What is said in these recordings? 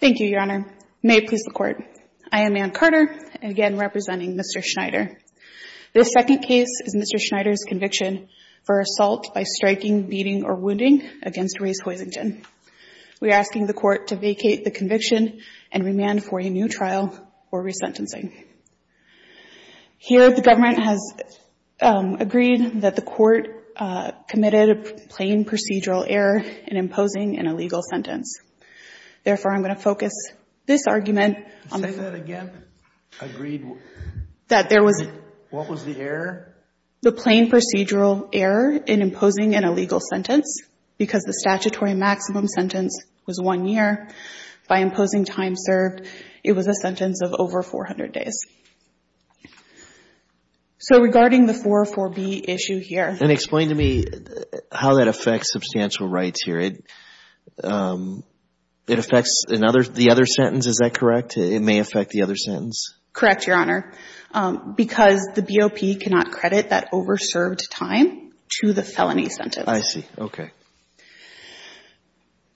Thank you, Your Honor. May it please the Court. I am Anne Carter, again representing Mr. Schneider. This second case is Mr. Schneider's conviction for assault by striking, beating, or wounding against Rhys Hoisington. We are asking the Court to vacate the conviction and remand for a new trial or resentencing. Here, the Government has agreed that the Court committed a plain procedural error in imposing an illegal sentence. Therefore, I'm going to focus this argument on the fact that there was the plain procedural error in imposing an illegal sentence because the statutory maximum sentence was one year by imposing time served. It was a sentence of over 400 days. So regarding the 404B issue here. Chief Judge Goldberg And explain to me how that affects substantial rights here. It affects the other sentence, is that correct? It may affect the other sentence? Anne Carter Correct, Your Honor, because the BOP cannot credit that over-served time to the felony sentence. Chief Judge Goldberg I see. Okay. Anne Carter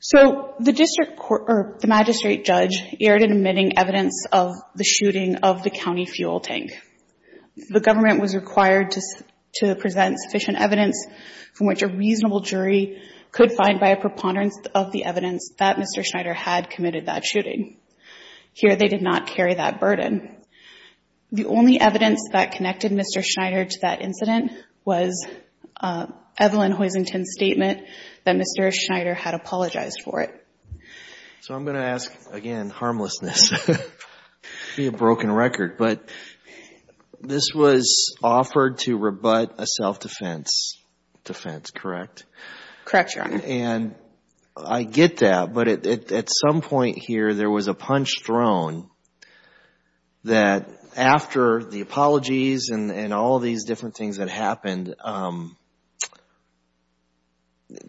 So the District Court or the Magistrate Judge erred in omitting evidence of the shooting of the county fuel tank. The Government was required to present sufficient evidence from which a reasonable jury could find by a preponderance of the evidence that Mr. Schneider had committed that shooting. Here, they did not carry that burden. The only evidence that connected Mr. Schneider to that incident was Evelyn Hoisington's statement that Mr. Schneider had apologized for it. Chief Judge Goldberg So I'm going to ask again, harmlessness. It would be a broken record, but this was offered to rebut a self-defense defense, correct? Anne Carter Correct, Your Honor. Chief Judge Goldberg And I get that, but at some point here, there was a punch thrown that after the apologies and all these different things that happened,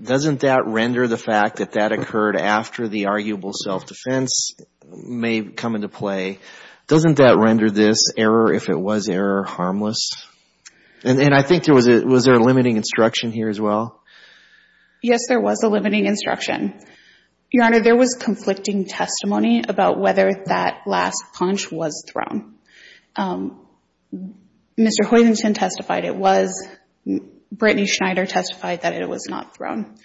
doesn't that render the fact that that occurred after the arguable self-defense may come into play, doesn't that render this error, if it was error, harmless? And I think there was a limiting instruction here as well? Anne Carter Yes, there was a limiting instruction. Your Honor, there was conflicting testimony about whether that last punch was thrown. Mr. Hoisington testified it was. Brittany Schneider testified that it was not thrown.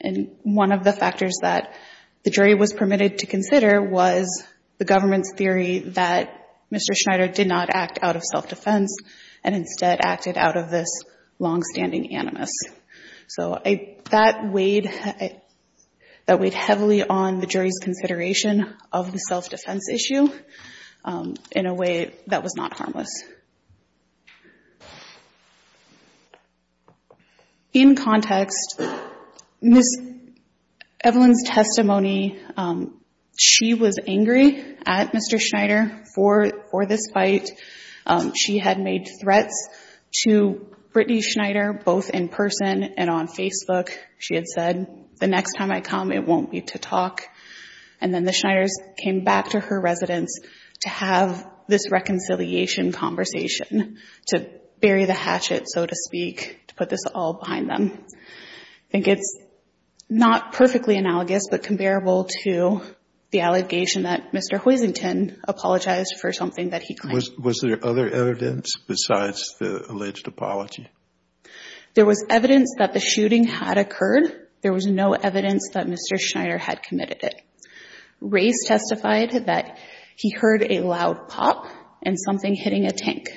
And one of the factors that the jury was permitted to consider was the government's theory that Mr. Schneider did not act out of self-defense and instead acted out of this longstanding animus. So that weighed heavily on the jury's consideration of the self-defense issue in a way that was not harmless. In context, Ms. Evelyn's testimony, she was angry at Mr. Schneider for this fight. She had made threats to Brittany Schneider both in person and on Facebook. She had said, the next time I come, it won't be to talk. And then the Schneiders came back to her residence to have this reconciliation conversation, to bury the hatchet, so to speak, to put this all behind them. I think it's not perfectly analogous but comparable to the allegation that Mr. Hoisington apologized for something that he claimed. Kennedy Was there other evidence besides the alleged apology? Evelyn Schneider There was evidence that the shooting had occurred. He heard a loud pop and something hitting a tank.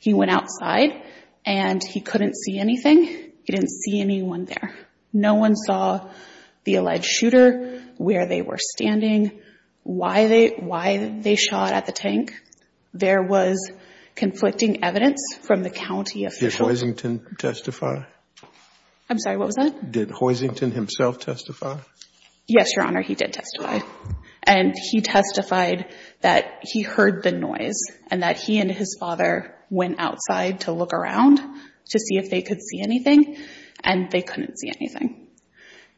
He went outside and he couldn't see anything. He didn't see anyone there. No one saw the alleged shooter, where they were standing, why they shot at the tank. There was conflicting evidence from the county officials. Did Hoisington testify? Evelyn Schneider I'm sorry, what was that? Did Hoisington himself testify? Yes, Your Honor, he did testify. And he testified that he heard the noise and that he and his father went outside to look around to see if they could see anything, and they couldn't see anything.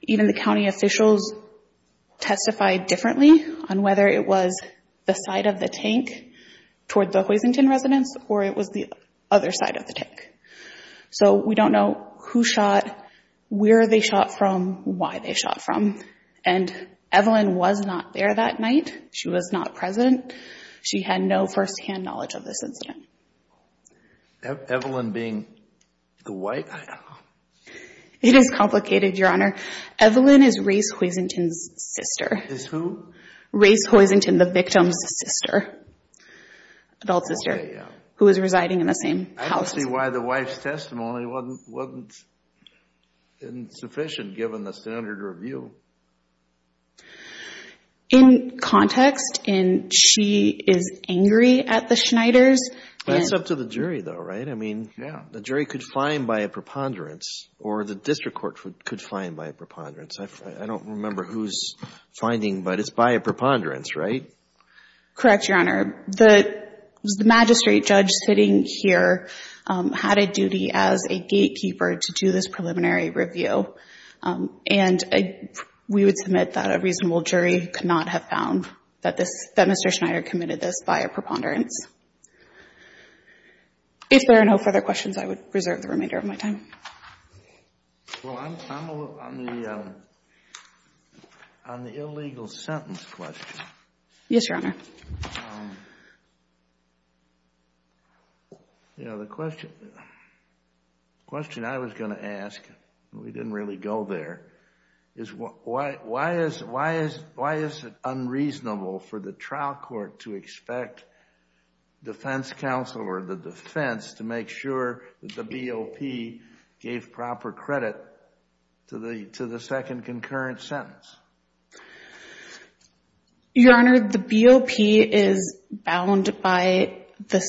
Even the county officials testified differently on whether it was the side of the tank toward the Hoisington residence or it was the other side of the tank. So we don't know who shot, where they shot from, why they shot from. And Evelyn was not there that night. She was not present. She had no first-hand knowledge of this incident. Evelyn Schneider Evelyn being the wife, I don't know. It is complicated, Your Honor. Evelyn is Race Hoisington's sister. Is who? Race Hoisington, the victim's sister, adult sister, who was residing in the same house as him. I don't see why the wife's testimony wasn't sufficient, given the standard review. In context, she is angry at the Schneiders. That's up to the jury, though, right? I mean, the jury could find by a preponderance or the district court could find by a preponderance. I don't remember who's finding, but it's by a preponderance, right? Correct, Your Honor. The magistrate judge sitting here had a duty as a gatekeeper to do this preliminary review. And we would submit that a reasonable jury could not have found that Mr. Schneider committed this by a preponderance. If there are no further questions, I would reserve the remainder of my time. Well, I'm a little on the illegal sentence question. Yes, Your Honor. You know, the question I was going to ask, we didn't really go there, is why is it unreasonable for the trial court to expect defense counsel or the defense to make sure that the BOP gave proper credit to the second concurrent sentence? Your Honor, the BOP is bound by the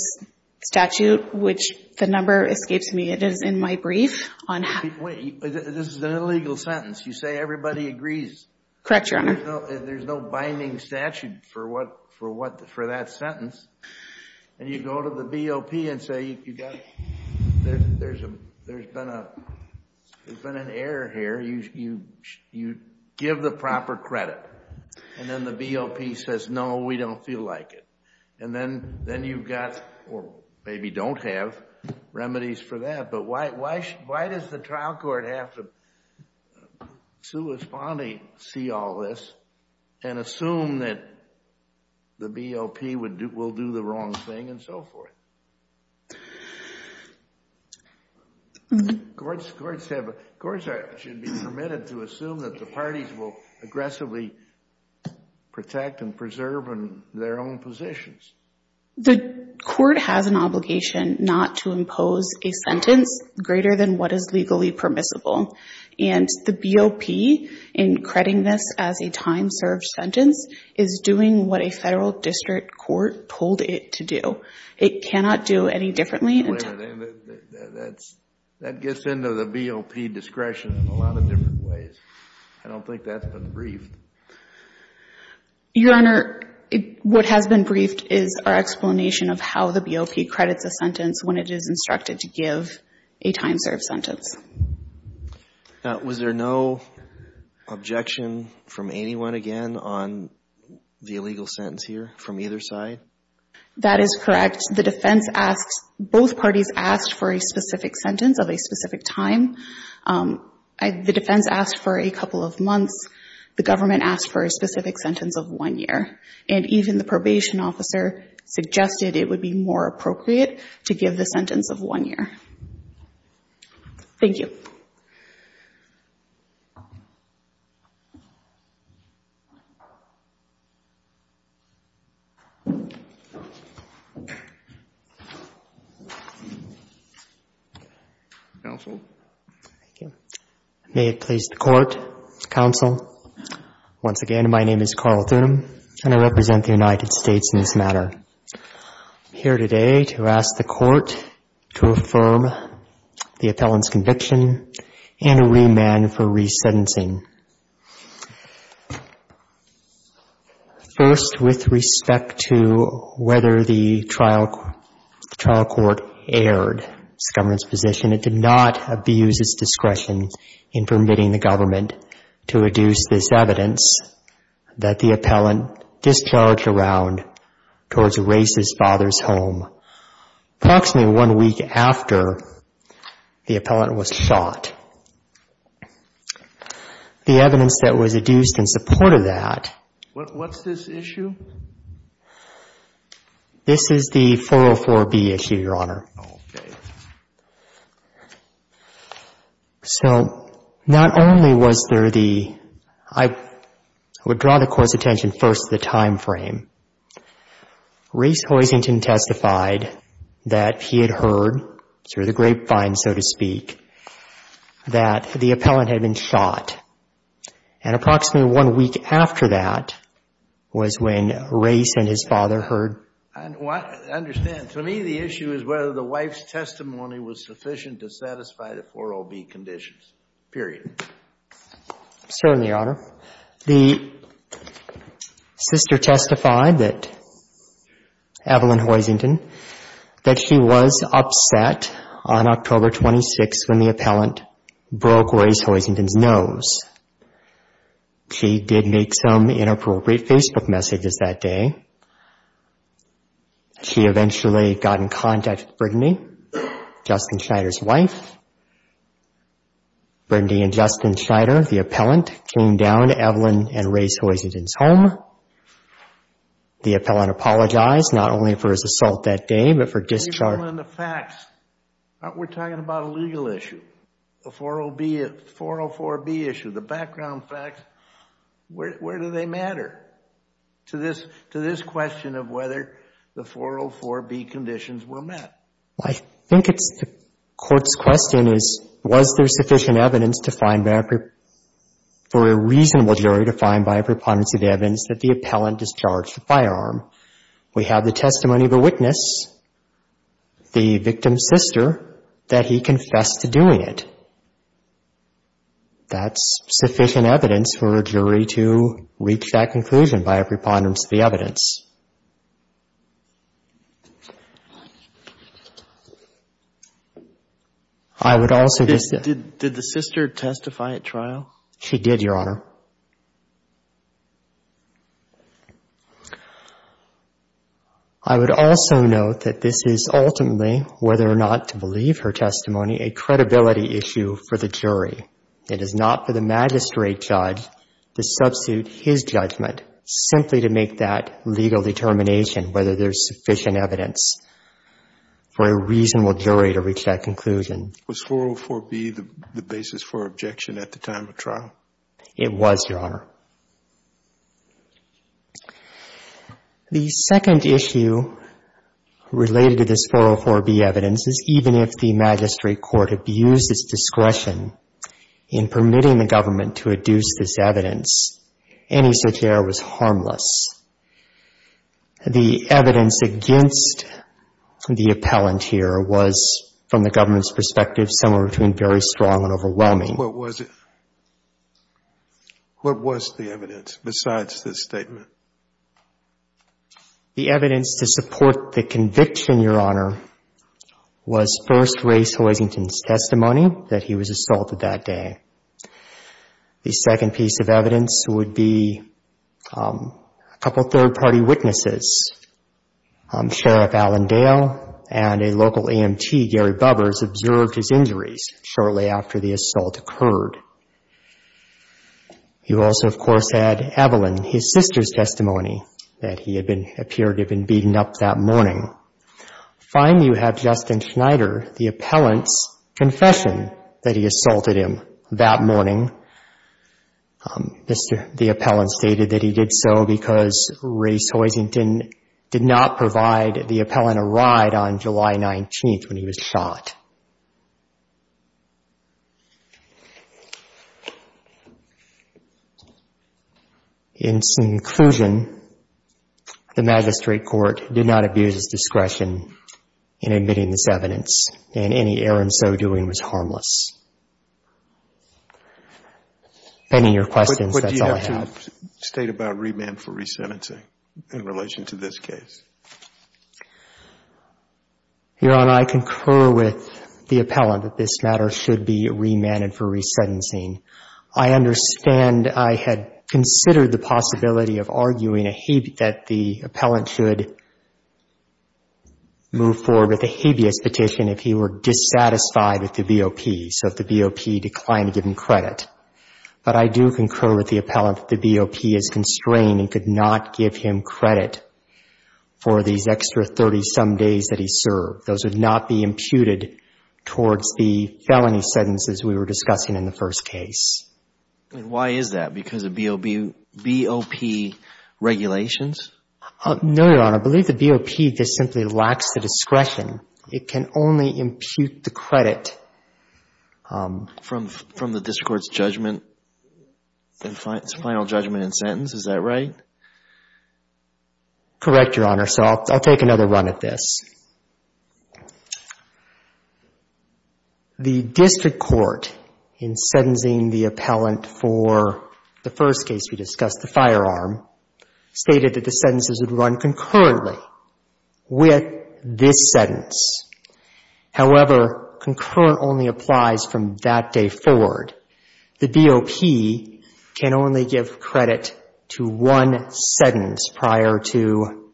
statute, which the number escapes me. It is in my brief. Wait, this is an illegal sentence. You say everybody agrees. Correct, Your Honor. There's no binding statute for that sentence. And you go to the BOP and say, there's been an error here. You give the proper credit. And then the BOP says, no, we don't feel like it. And then you've got, or maybe don't have, remedies for that. But why does the trial court have to see all this and assume that the BOP will do the wrong thing and so forth? Courts should be permitted to assume that the parties will aggressively protect and preserve their own positions. The court has an obligation not to impose a sentence greater than what is legally permissible. And the BOP, in crediting this as a time-served sentence, is doing what a federal district court told it to do. It cannot do any differently. Wait a minute. That gets into the BOP discretion in a lot of different ways. I don't think that's been briefed. Your Honor, what has been briefed is our explanation of how the BOP credits a sentence when it is instructed to give a time-served sentence. Now, was there no objection from anyone again on the illegal sentence here from either side? That is correct. The defense asks, both parties asked for a specific sentence of a specific time. The defense asked for a couple of months. The government asked for a specific sentence of one year. And even the probation officer suggested it would be more appropriate to give the sentence of one year. Thank you. Counsel? Thank you. May it please the Court, Counsel, once again, my name is Carl Thunem, and I represent the United States in this matter. I'm here today to ask the Court to affirm the appellant's conviction and remand for resentencing. First, with respect to whether the trial court aired this government's position, it did not abuse its discretion in permitting the government to reduce this evidence that the appellant discharged around towards Race's father's home approximately one week after the appellant was shot. The evidence that was adduced in support of that What's this issue? This is the 404B issue, Your Honor. Okay. So, not only was there the I would draw the Court's attention first to the time frame. Race Hoisington testified that he had heard, through the grapevine, so to speak, that the appellant had been shot. And approximately one week after that was when Race and his father heard I understand. To me, the issue is whether the wife's testimony was sufficient to satisfy the 404B conditions, period. Certainly, Your Honor. The sister testified that, Evelyn Hoisington, that she was upset on October 26th when the appellant broke Race Hoisington's nose. She did make some inappropriate Facebook messages that day. She eventually got in contact with Brittany, Justin Schneider's wife. Brittany and Justin Schneider, the appellant, came down to Evelyn and Race Hoisington's home. The appellant apologized, not only for his assault that day, but for discharging Evelyn, the facts. We're talking about a legal issue. The 404B issue, the background facts. Where do they matter to this question of whether the 404B conditions were met? I think the court's question is, was there sufficient evidence for a reasonable jury to find by a preponderance of evidence that the appellant discharged the firearm? We have the testimony of the witness, the victim's sister, that he confessed to doing it. That's sufficient evidence for a jury to reach that conclusion by a preponderance of the evidence. I would also just say — Did the sister testify at trial? She did, Your Honor. I would also note that this is ultimately, whether or not to believe her testimony, a credibility issue for the jury. It is not for the magistrate judge to substitute his judgment, simply to make that legal determination whether there's sufficient evidence for a reasonable jury to reach that conclusion. Was 404B the basis for objection at the time of trial? It was, Your Honor. The second issue related to this 404B evidence is even if the magistrate court abused its discretion in permitting the government to adduce this evidence, any such error was harmless. The evidence against the appellant here was, from the government's perspective, somewhere between very strong and overwhelming. What was it? What was the evidence besides this statement? The evidence to support the conviction, Your Honor, was first race Hoisington's testimony that he was assaulted that day. The second piece of evidence would be a couple third-party witnesses. Sheriff Allendale and a local EMT, Gary Bubbers, observed his injuries shortly after the assault occurred. You also, of course, had Evelyn, his sister's testimony, that he had been appeared to have been beaten up that morning. Finally, you have Justin Schneider, the appellant's confession that he assaulted him that morning. The appellant stated that he did so because race Hoisington did not provide the appellant a ride on July 19th when he was shot. In conclusion, the magistrate court did not abuse its discretion in admitting this evidence, and any error in so doing was harmless. Ending your questions, that's all I have. But do you have to state about remand for resentencing in relation to this case? Your Honor, I concur with the appellant that this matter should be remanded for resentencing. I understand I had considered the possibility of arguing that the appellant should move forward with a habeas petition if he were dissatisfied with the BOP, so if the BOP declined to give him credit. But I do concur with the appellant that the BOP is constrained and could not give him credit for these extra 30-some days that he served. Those would not be imputed towards the felony sentences we were discussing in the first case. And why is that? Because of BOP regulations? No, Your Honor. I believe the BOP just simply lacks the discretion. It can only impute the credit. From the district court's judgment, its final judgment and sentence. Is that right? Correct, Your Honor. So I'll take another run at this. The district court in sentencing the appellant for the first case we discussed, the firearm, stated that the sentences would run concurrently with this sentence. However, concurrent only applies from that day forward. The BOP can only give credit to one sentence prior to,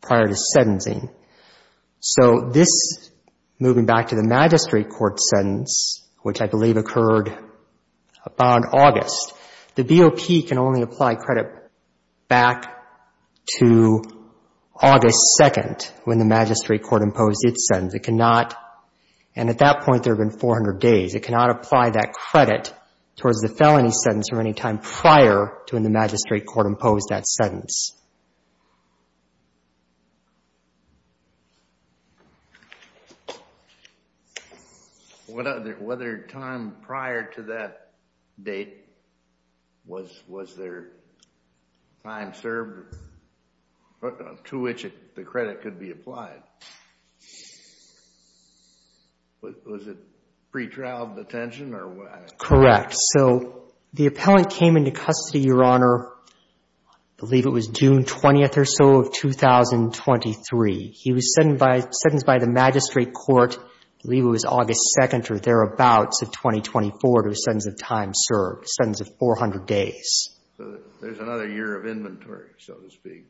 prior to sentencing. So this, moving back to the magistrate court sentence, which I believe occurred about August, the BOP can only apply credit back to August 2nd when the magistrate court imposed its sentence. It cannot, and at that point there have been 400 days, it cannot apply that credit towards the felony sentence from any time prior to when the magistrate court imposed that sentence. What other, what other time prior to that date was, was there time served to which the credit could be applied? Was it pretrial detention or what? Correct. So the appellant came into custody, Your Honor, I believe it was June 20th or so of 2023. He was sentenced by, sentenced by the magistrate court, I believe it was August 2nd or thereabouts of 2024 to a sentence of time served, a sentence of 400 days. So there's another year of inventory, so to speak.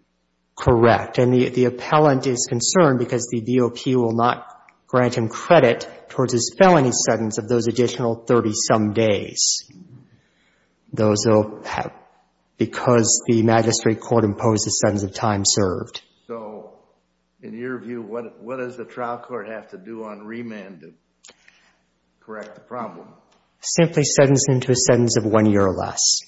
Correct. And the appellant is concerned because the BOP will not grant him credit towards his felony sentence of those additional 30-some days. Those will have, because the magistrate court imposed a sentence of time served. So in your view, what, what does the trial court have to do on remand to correct the problem? Simply sentence him to a sentence of one year or less.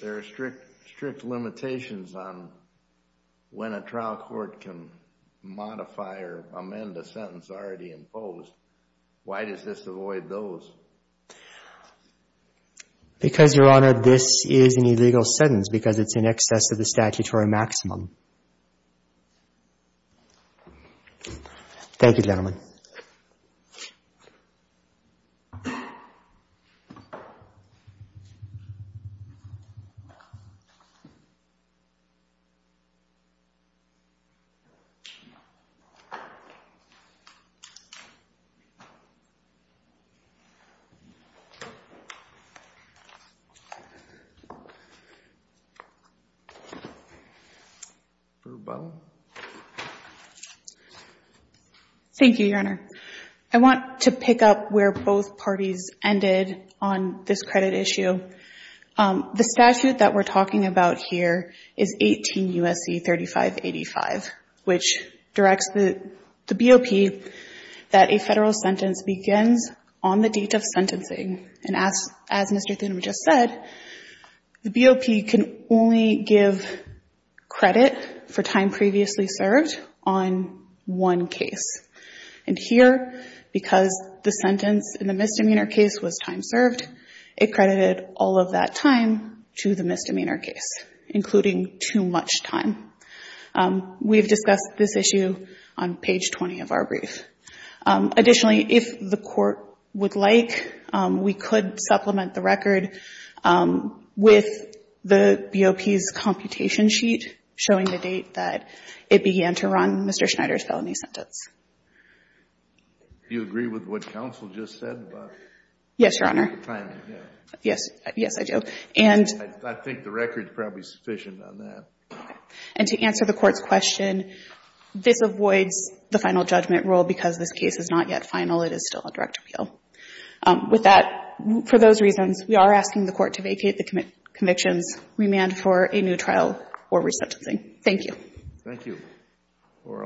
There are strict, strict limitations on when a trial court can modify or amend a sentence already imposed. Why does this avoid those? Because, Your Honor, this is an illegal sentence because it's in excess of the statutory maximum. Thank you, Your Honor. Brubel. Thank you, Your Honor. I want to pick up where both parties ended on this credit issue. The statute that we're talking about here is 18 U.S.C. 3585, which directs the, the BOP that a federal sentence begins on the date of sentencing. And as, as Mr. Thuneman just said, the BOP can only give credit for time previously served on one case. And here, because the sentence in the misdemeanor case was time served, it credited all of that time to the misdemeanor case, including too much time. We've discussed this issue on page 20 of our brief. Additionally, if the court would like, we could supplement the record with the BOP's computation sheet showing the date that it began to run Mr. Schneider's felony sentence. Do you agree with what counsel just said about the timing? Yes, Your Honor. Yes. Yes, I do. And I think the record is probably sufficient on that. And to answer the Court's question, this avoids the final judgment rule because this case is not yet final. It is still a direct appeal. With that, for those reasons, we are asking the Court to vacate the convictions, remand for a new trial or resentencing. Thank you. Thank you.